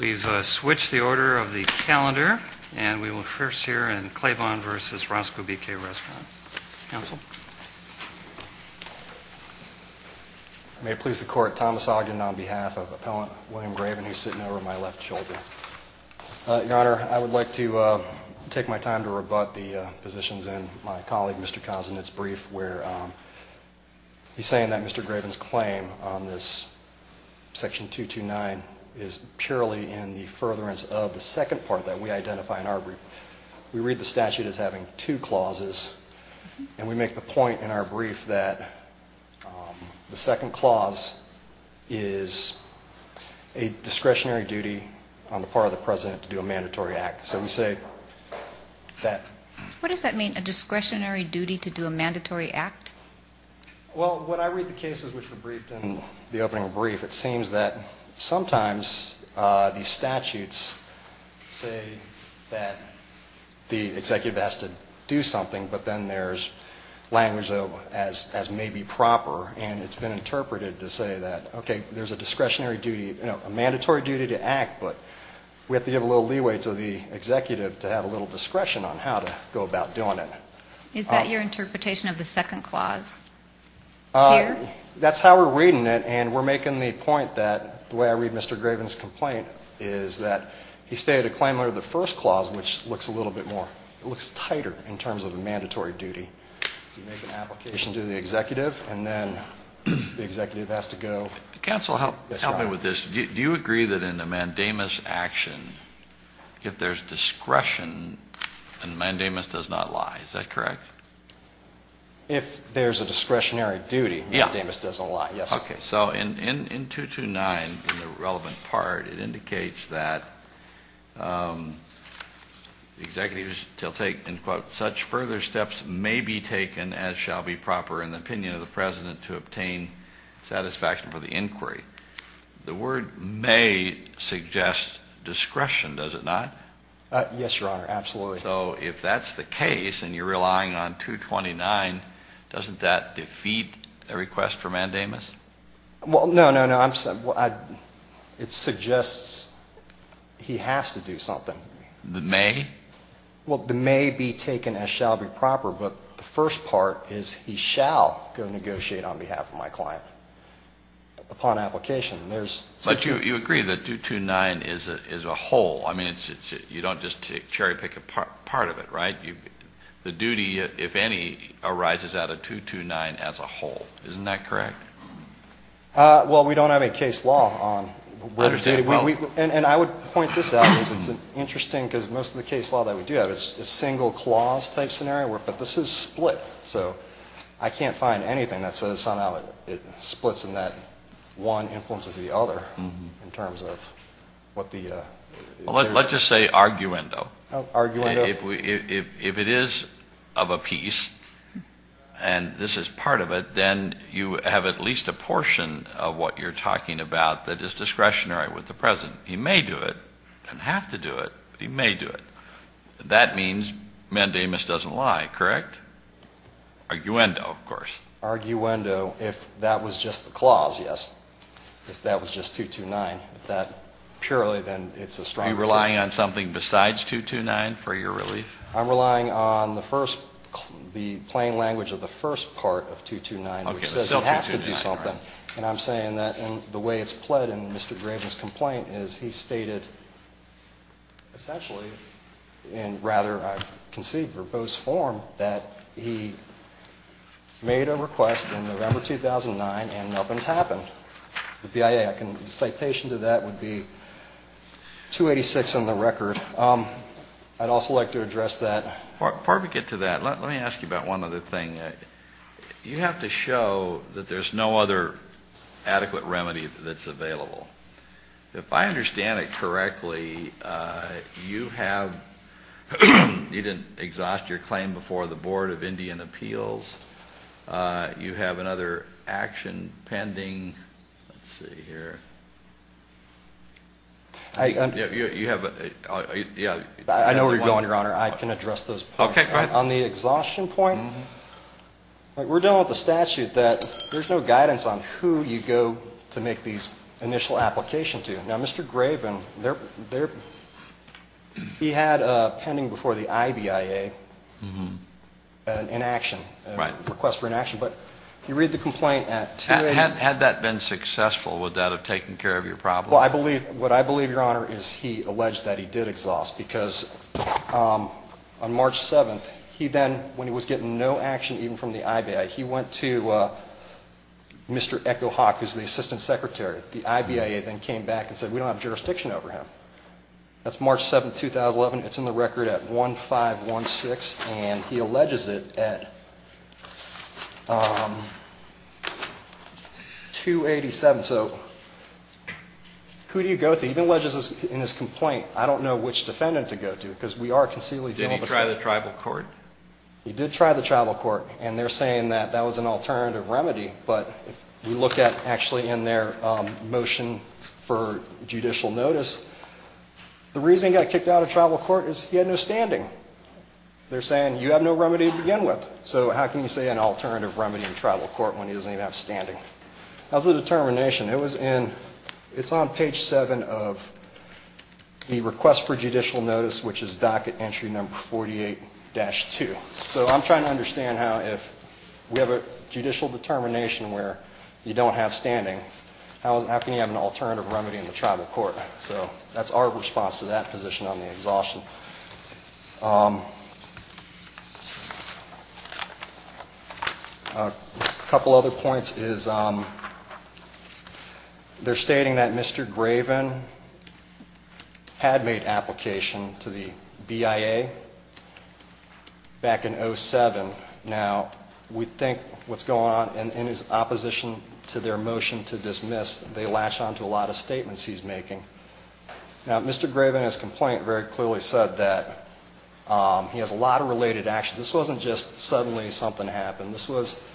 We've switched the order of the calendar, and we will first hear in Claiborne v. Roscoe B. K. Restaurant. Counsel? I may please the court. Thomas Ogden on behalf of Appellant William Graven, who's sitting over my left shoulder. Your Honor, I would like to take my time to rebut the positions in my colleague Mr. Kozinets' brief, where he's saying that Mr. Graven's claim on this Section 229 is purely in the furtherance of the second part that we identify in our brief. We read the statute as having two clauses, and we make the point in our brief that the second clause is a discretionary duty on the part of the President to do a mandatory act. So we say that... What does that mean, a discretionary duty to do a mandatory act? Well, when I read the cases which were briefed in the opening brief, it seems that sometimes these statutes say that the executive has to do something, but then there's language, though, as may be proper, and it's been interpreted to say that, okay, there's a discretionary duty, a mandatory duty to act, but we have to give a little leeway to the executive to have a little discretion on how to go about doing it. Is that your interpretation of the second clause here? That's how we're reading it, and we're making the point that the way I read Mr. Graven's complaint is that he stated a claim under the first clause, which looks a little bit more...it looks tighter in terms of a mandatory duty. You make an application to the executive, and then the executive has to go... Counsel, help me with this. Do you agree that in a mandamus action, if there's discretion, a mandamus does not lie? Is that correct? If there's a discretionary duty, a mandamus doesn't lie, yes. Okay. So in 229, in the relevant part, it indicates that the executives shall take, and quote, such further steps may be taken as shall be proper in the opinion of the president to obtain satisfaction for the inquiry. The word may suggest discretion, does it not? Yes, Your Honor, absolutely. So if that's the case, and you're relying on 229, doesn't that defeat a request for mandamus? Well, no, no, no. It suggests he has to do something. The may? Well, the may be taken as shall be proper, but the first part is he shall go negotiate on behalf of my client upon application. But you agree that 229 is a whole. I mean, you don't just cherry pick a part of it, right? The duty, if any, arises out of 229 as a whole. Isn't that correct? Well, we don't have a case law on whether... And I would point this out because it's interesting because most of the case law that we do have is single clause type scenario, but this is split. So I can't find anything that says somehow it splits and that one influences the other in terms of what the... Well, let's just say arguendo. Oh, arguendo. If it is of a piece and this is part of it, then you have at least a portion of what you're talking about that is discretionary with the president. He may do it, can have to do it, but he may do it. That means mandamus doesn't lie, correct? Arguendo, of course. Arguendo if that was just the clause, yes. If that was just 229, if that purely then it's a strong request. Are you relying on something besides 229 for your relief? I'm relying on the first, the plain language of the first part of 229, which says he has to do something. And I'm saying that the way it's pled in Mr. Graven's complaint is he stated essentially, and rather I can see verbose form, that he made a request in November 2009 and nothing's happened. The BIA, the citation to that would be 286 on the record. I'd also like to address that. Before we get to that, let me ask you about one other thing. You have to show that there's no other adequate remedy that's available. If I understand it correctly, you have, you didn't exhaust your claim before the Board of Indian Appeals. You have another action pending. Let's see here. I know where you're going, Your Honor. I can address those points. Okay, go ahead. On the exhaustion point, we're done with the statute that there's no guidance on who you go to make these initial applications to. Now, Mr. Graven, he had pending before the IBIA an inaction, a request for inaction. But you read the complaint at 286. Had that been successful, would that have taken care of your problem? Well, I believe, what I believe, Your Honor, is he alleged that he did exhaust because on March 7th, he then, when he was getting no action even from the IBI, he went to Mr. Echo Hawk, who's the Assistant Secretary. The IBIA then came back and said, we don't have jurisdiction over him. That's March 7th, 2011. It's in the record at 1516. And he alleges it at 287. So who do you go to? He even alleges in his complaint, I don't know which defendant to go to because we are concealing. Did he try the tribal court? He did try the tribal court. And they're saying that that was an alternative remedy. But if you look at actually in their motion for judicial notice, the reason he got kicked out of tribal court is he had no standing. They're saying, you have no remedy to begin with. So how can you say an alternative remedy in tribal court when he doesn't even have standing? How's the determination? It was in, it's on page 7 of the request for judicial notice, which is docket entry number 48-2. So I'm trying to understand how if we have a judicial determination where you don't have standing, how can you have an alternative remedy in the tribal court? So that's our response to that position on the exhaustion. A couple other points is they're stating that Mr. Graven had made application to the BIA back in 07. Now, we think what's going on in his opposition to their motion to dismiss, they latch on to a lot of statements he's making. Now, Mr. Graven in his complaint very clearly said that he has a lot of related actions. This wasn't just suddenly something happened. This was,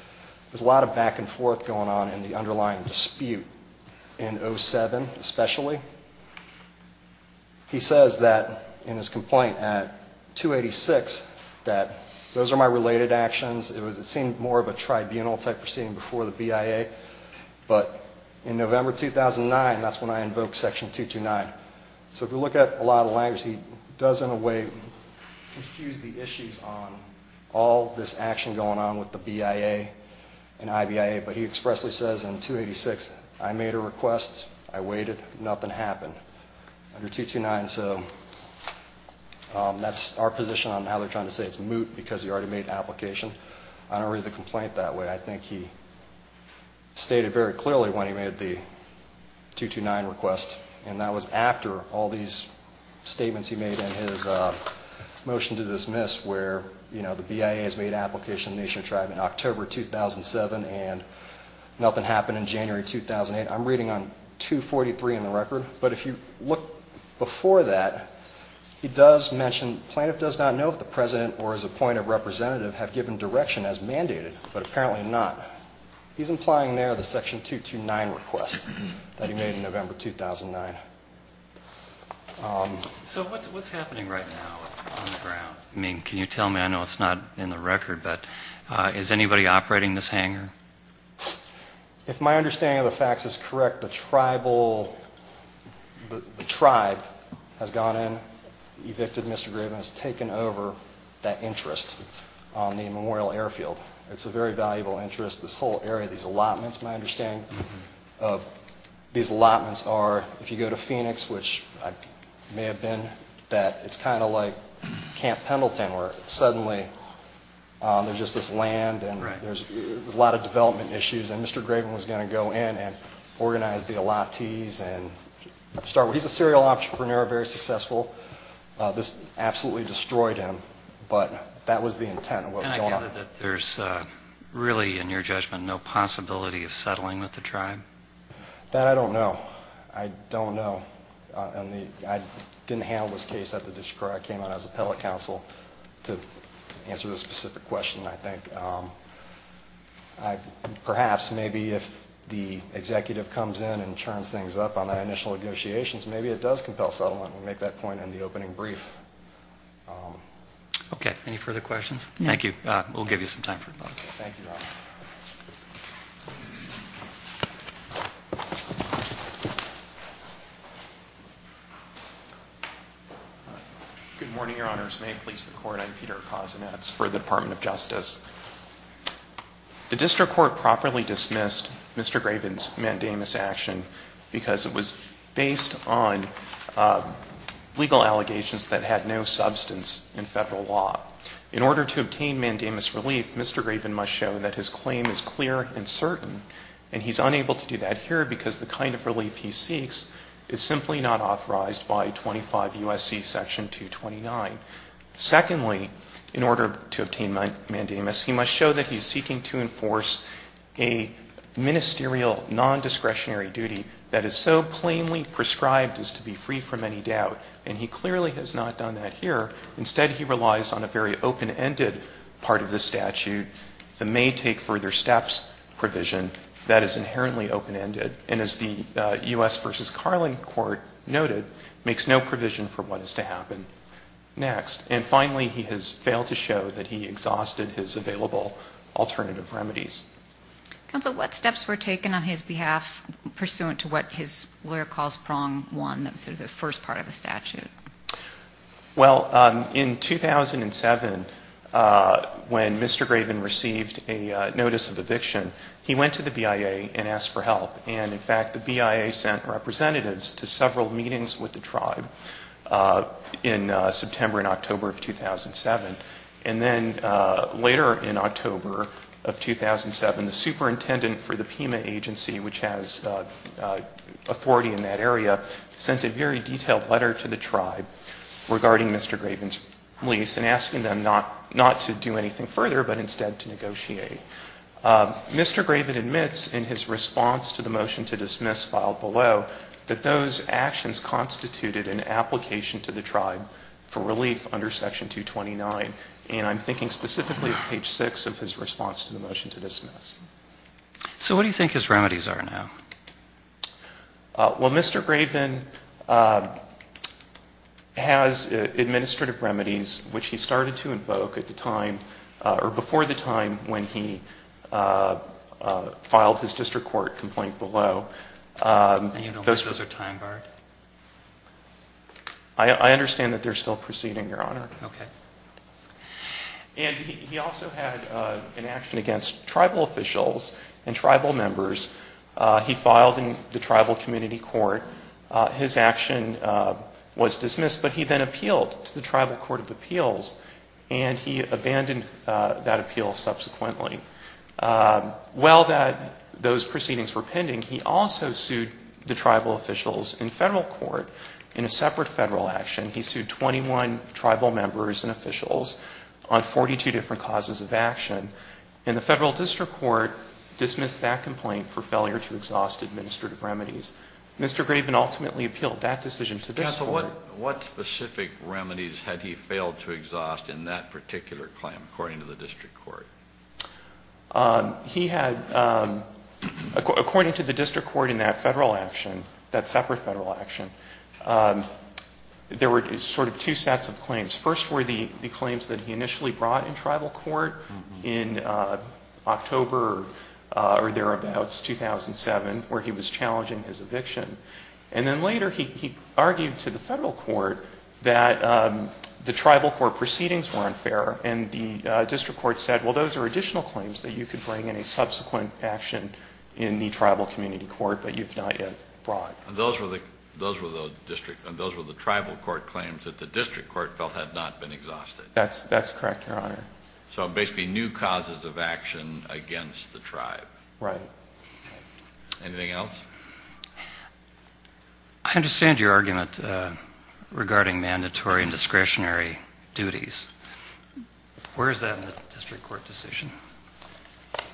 there's a lot of back and forth going on in the underlying dispute in 07 especially. He says that in his complaint at 286 that those are my related actions. It seemed more of a tribunal type proceeding before the BIA. But in November 2009, that's when I invoked section 229. So if you look at a lot of language, he does in a way confuse the issues on all this action going on with the BIA and IBIA. But he expressly says in 286, I made a request. I waited. Nothing happened under 229. So that's our position on how they're trying to say it's moot because he already made application. I don't read the complaint that way. I think he stated very clearly when he made the 229 request. And that was after all these statements he made in his motion to dismiss where, you know, the BIA has made an application to the National Tribe in October 2007 and nothing happened in January 2008. I'm reading on 243 in the record. But if you look before that, he does mention, plaintiff does not know if the president or his appointed representative have given direction as mandated. But apparently not. He's implying there the section 229 request that he made in November 2009. So what's happening right now on the ground? I mean, can you tell me? I know it's not in the record. But is anybody operating this hangar? If my understanding of the facts is correct, the tribal, the tribe has gone in, evicted Mr. Graven, and has taken over that interest on the Memorial Airfield. It's a very valuable interest. This whole area, these allotments, my understanding of these allotments are if you go to Phoenix, which I may have been, that it's kind of like Camp Pendleton where suddenly there's just this land and there's a lot of development issues. And Mr. Graven was going to go in and organize the allottees and start. He's a serial entrepreneur, very successful. This absolutely destroyed him. But that was the intent of what was going on. And I gather that there's really, in your judgment, no possibility of settling with the tribe? That I don't know. I don't know. I didn't handle this case at the district court. I came out as appellate counsel to answer the specific question, I think. Perhaps maybe if the executive comes in and turns things up on the initial negotiations, maybe it does compel settlement. We'll make that point in the opening brief. Okay. Any further questions? Thank you. We'll give you some time for a moment. Thank you, Your Honor. Good morning, Your Honors. I'm Peter Kozinets for the Department of Justice. The district court properly dismissed Mr. Graven's mandamus action because it was based on legal allegations that had no substance in Federal law. In order to obtain mandamus relief, Mr. Graven must show that his claim is clear and certain. And he's unable to do that here because the kind of relief he seeks is simply not authorized by 25 U.S.C. Section 229. Secondly, in order to obtain mandamus, he must show that he's seeking to enforce a ministerial nondiscretionary duty that is so plainly prescribed as to be free from any doubt, and he clearly has not done that here. Instead, he relies on a very open-ended part of the statute that may take further steps provision that is inherently open-ended and, as the U.S. v. Carlin court noted, makes no provision for what is to happen. Next. And finally, he has failed to show that he exhausted his available alternative remedies. Counsel, what steps were taken on his behalf pursuant to what his lawyer calls prong one, sort of the first part of the statute? Well, in 2007, when Mr. Graven received a notice of eviction, he went to the BIA and asked for help, and, in fact, the BIA sent representatives to several meetings with the tribe in September and October of 2007. And then later in October of 2007, the superintendent for the PEMA agency, which has authority in that area, sent a very detailed letter to the tribe regarding Mr. Graven's lease and asking them not to do anything further, but instead to negotiate. Mr. Graven admits in his response to the motion to dismiss filed below that those actions constituted an application to the tribe for relief under section 229. And I'm thinking specifically of page 6 of his response to the motion to dismiss. So what do you think his remedies are now? Well, Mr. Graven has administrative remedies, which he started to invoke at the time, or before the time when he filed his district court complaint below. And you don't think those are time-barred? I understand that they're still proceeding, Your Honor. Okay. And he also had an action against tribal officials and tribal members. He filed in the tribal community court. His action was dismissed, but he then appealed to the tribal court of appeals, and he abandoned that appeal subsequently. While those proceedings were pending, he also sued the tribal officials in federal court in a separate federal action. He sued 21 tribal members and officials on 42 different causes of action. And the federal district court dismissed that complaint for failure to exhaust administrative remedies. Mr. Graven ultimately appealed that decision to this court. Yes, but what specific remedies had he failed to exhaust in that particular claim, according to the district court? He had, according to the district court in that federal action, that separate federal action, there were sort of two sets of claims. First were the claims that he initially brought in tribal court in October or thereabouts, 2007, where he was challenging his eviction. And then later he argued to the federal court that the tribal court proceedings were unfair. And the district court said, well, those are additional claims that you could bring in a subsequent action in the tribal community court, but you've not yet brought. And those were the tribal court claims that the district court felt had not been exhausted. That's correct, Your Honor. So basically new causes of action against the tribe. Right. Anything else? I understand your argument regarding mandatory and discretionary duties. Where is that in the district court decision?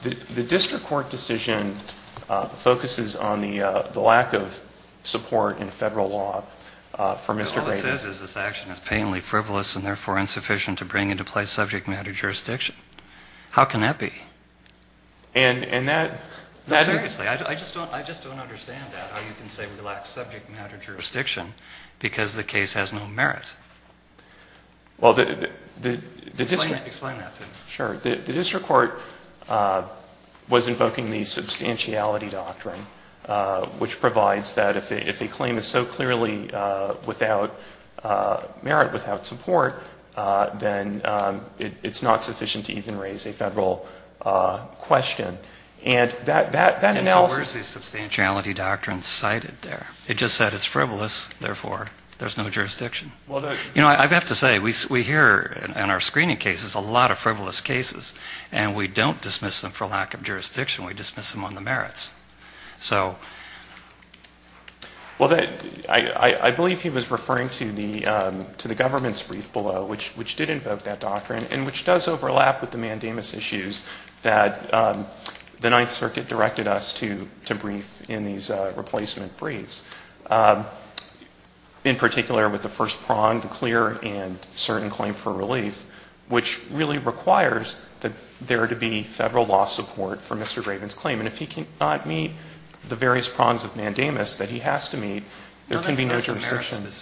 The district court decision focuses on the lack of support in federal law for Mr. Graven. All it says is this action is painfully frivolous and, therefore, insufficient to bring into play subject matter jurisdiction. How can that be? And that... Seriously, I just don't understand that, how you can say we lack subject matter jurisdiction because the case has no merit. Well, the district... Explain that to me. Sure. The district court was invoking the substantiality doctrine, which provides that if a claim is so clearly without merit, without support, then it's not sufficient to even raise a federal question. And that analysis... And so where is the substantiality doctrine cited there? It just said it's frivolous, therefore, there's no jurisdiction. Well, the... You know, I have to say, we hear in our screening cases a lot of frivolous cases, and we don't dismiss them for lack of jurisdiction. We dismiss them on the merits. So... Well, I believe he was referring to the government's brief below, which did invoke that doctrine and which does overlap with the mandamus issues that the Ninth Circuit directed us to brief in these replacement briefs. In particular, with the first prong, the clear and certain claim for relief, which really requires that there to be federal law support for Mr. Graven's claim. And if he cannot meet the various prongs of mandamus that he has to meet, there can be no jurisdiction. No, that's not a merits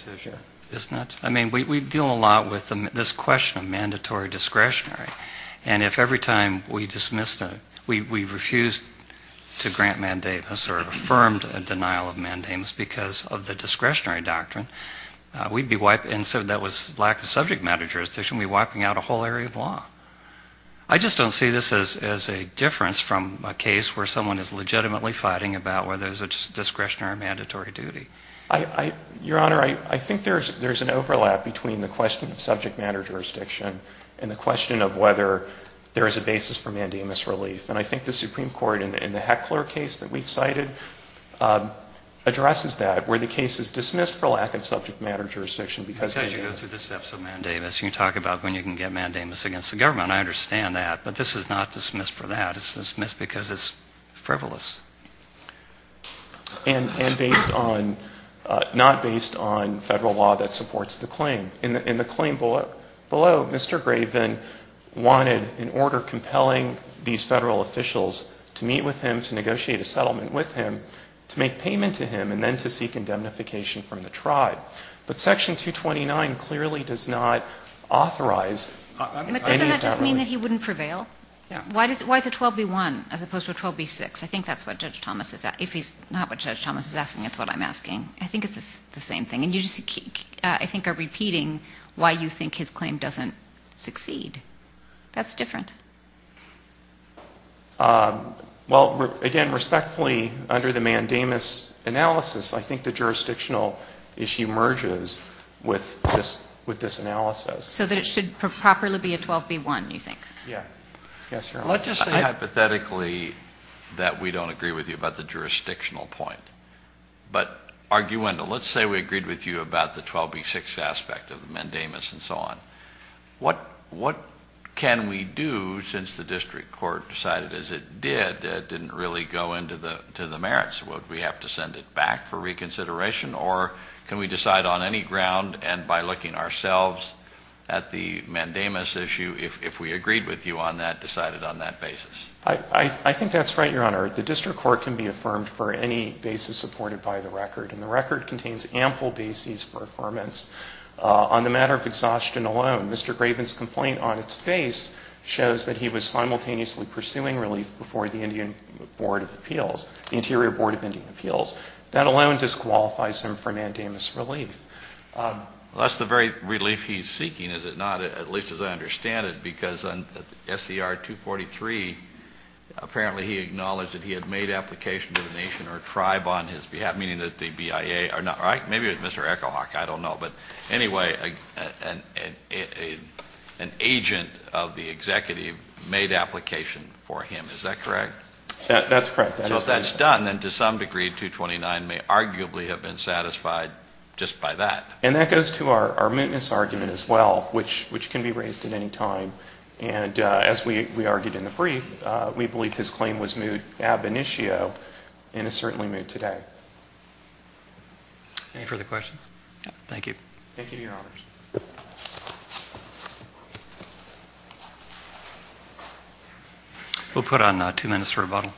decision, is it? I mean, we deal a lot with this question of mandatory discretionary. And if every time we dismissed a... We refused to grant mandamus or affirmed a denial of mandamus because of the discretionary doctrine, we'd be wiping... And so that was lack of subject matter jurisdiction, we'd be wiping out a whole area of law. I just don't see this as a difference from a case where someone is legitimately fighting about whether it's a discretionary or mandatory duty. I... Your Honor, I think there's an overlap between the question of subject matter jurisdiction and the question of whether there is a basis for mandamus relief. And I think the Supreme Court, in the Heckler case that we've cited, addresses that, where the case is dismissed for lack of subject matter jurisdiction because... Because you go through the steps of mandamus. You talk about when you can get mandamus against the government. I understand that. But this is not dismissed for that. It's dismissed because it's frivolous. And based on... Not based on federal law that supports the claim. In the claim below, Mr. Graven wanted an order compelling these federal officials to meet with him, to negotiate a settlement with him, to make payment to him, and then to seek indemnification from the tribe. But Section 229 clearly does not authorize... But doesn't that just mean that he wouldn't prevail? Yeah. Why is it 12B1 as opposed to 12B6? I think that's what Judge Thomas is... If it's not what Judge Thomas is asking, it's what I'm asking. I think it's the same thing. And you just, I think, are repeating why you think his claim doesn't succeed. That's different. Well, again, respectfully, under the mandamus analysis, I think the jurisdictional issue merges with this analysis. So that it should properly be a 12B1, you think? Yeah. Yes, Your Honor. Let's just say hypothetically that we don't agree with you about the jurisdictional point. But arguendo, let's say we agreed with you about the 12B6 aspect of the mandamus and so on. What can we do, since the district court decided, as it did, it didn't really go into the merits? Would we have to send it back for reconsideration? Or can we decide on any ground, and by looking ourselves at the mandamus issue, if we agreed with you on that, decided on that basis? I think that's right, Your Honor. The district court can be affirmed for any basis supported by the record. And the record contains ample basis for affirmance. On the matter of exhaustion alone, Mr. Graven's complaint on its face shows that he was simultaneously pursuing relief before the Indian Board of Appeals, the Interior Board of Indian Appeals. That alone disqualifies him for mandamus relief. Well, that's the very relief he's seeking, is it not? At least as I understand it. Because on SCR 243, apparently he acknowledged that he had made application to the nation or tribe on his behalf, meaning that the BIA are not right? Maybe it was Mr. Echo Hawk. I don't know. But anyway, an agent of the executive made application for him. Is that correct? That's correct. So if that's done, then to some degree 229 may arguably have been satisfied just by that. And that goes to our maintenance argument as well, which can be raised at any time. And as we argued in the brief, we believe his claim was moot ab initio and is certainly moot today. Any further questions? Thank you. Thank you, Your Honors. Thank you, Your Honor.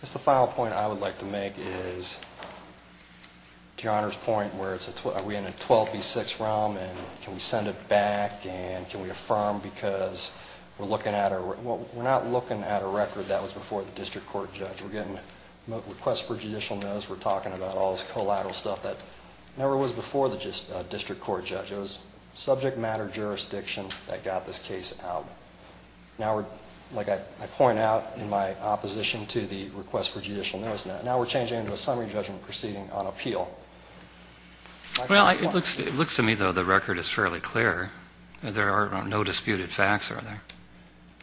Just a final point I would like to make is to Your Honor's point where we're in a 12 v. 6 realm and can we send it back and can we affirm because we're looking at a record. We're not looking at a record that was before the district court judge. We're getting requests for judicial notes. We're talking about all this collateral stuff that never was before the district court judge. It was subject matter jurisdiction that got this case out. Now, like I point out in my opposition to the request for judicial notes, now we're changing into a summary judgment proceeding on appeal. Well, it looks to me, though, the record is fairly clear. There are no disputed facts, are there?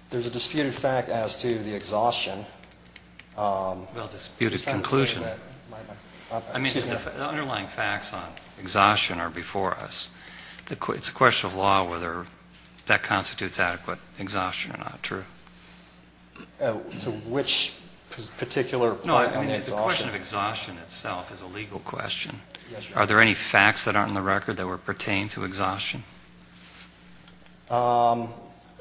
There's a disputed fact as to the exhaustion. Well, disputed conclusion. The underlying facts on exhaustion are before us. It's a question of law whether that constitutes adequate exhaustion or not. True? To which particular point on the exhaustion? The question of exhaustion itself is a legal question. Are there any facts that aren't in the record that pertain to exhaustion?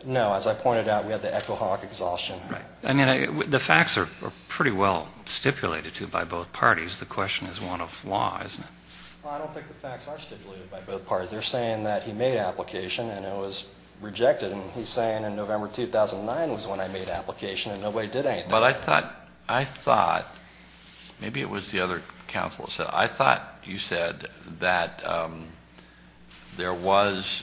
No. As I pointed out, we have the Echo Hawk exhaustion. The facts are pretty well stipulated, too, by both parties. The question is one of law, isn't it? I don't think the facts are stipulated by both parties. They're saying that he made application and it was rejected, and he's saying in November 2009 was when I made application and nobody did anything. But I thought maybe it was the other counsel that said it. I thought you said that there was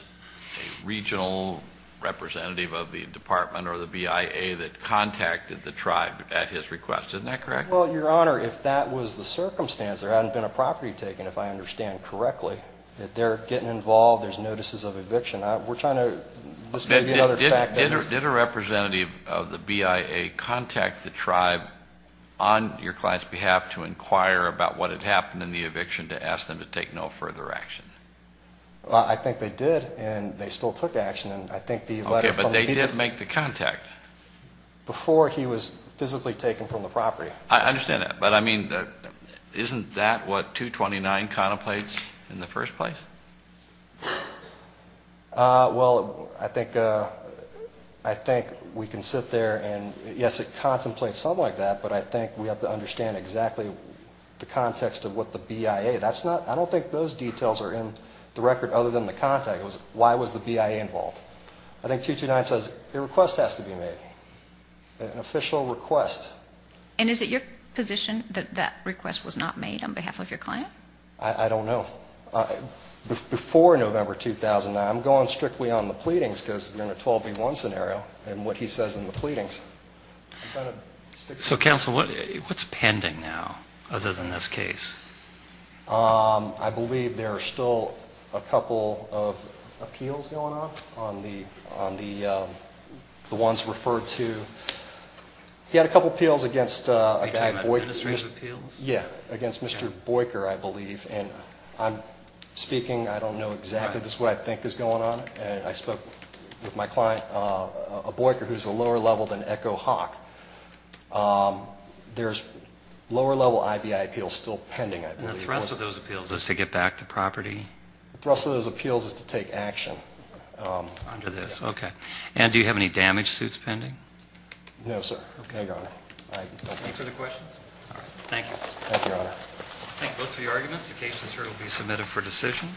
a regional representative of the department or the BIA that contacted the tribe at his request. Isn't that correct? Well, Your Honor, if that was the circumstance, there hadn't been a property taken, if I understand correctly. They're getting involved. There's notices of eviction. We're trying to listen to the other factors. Did a representative of the BIA contact the tribe on your client's behalf to inquire about what had happened in the eviction to ask them to take no further action? I think they did, and they still took action. Okay, but they did make the contact. Before he was physically taken from the property. I understand that. But, I mean, isn't that what 229 contemplates in the first place? Well, I think we can sit there and, yes, it contemplates something like that, but I think we have to understand exactly the context of what the BIA. I don't think those details are in the record other than the contact. Why was the BIA involved? I think 229 says a request has to be made, an official request. And is it your position that that request was not made on behalf of your client? I don't know. Before November 2009, I'm going strictly on the pleadings because we're in a 12B1 scenario and what he says in the pleadings. So, counsel, what's pending now other than this case? I believe there are still a couple of appeals going on on the ones referred to. He had a couple of appeals against Mr. Boyker, I believe, and I'm speaking, I don't know exactly this is what I think is going on, and I spoke with my client, a Boyker who's a lower level than Echo Hawk. There's lower level IBI appeals still pending, I believe. And the thrust of those appeals is to get back the property? The thrust of those appeals is to take action. Under this, okay. And do you have any damage suits pending? No, sir. Okay. Any further questions? All right. Thank you. Thank you, Your Honor. Thank you both for your arguments. The case is here to be submitted for decision.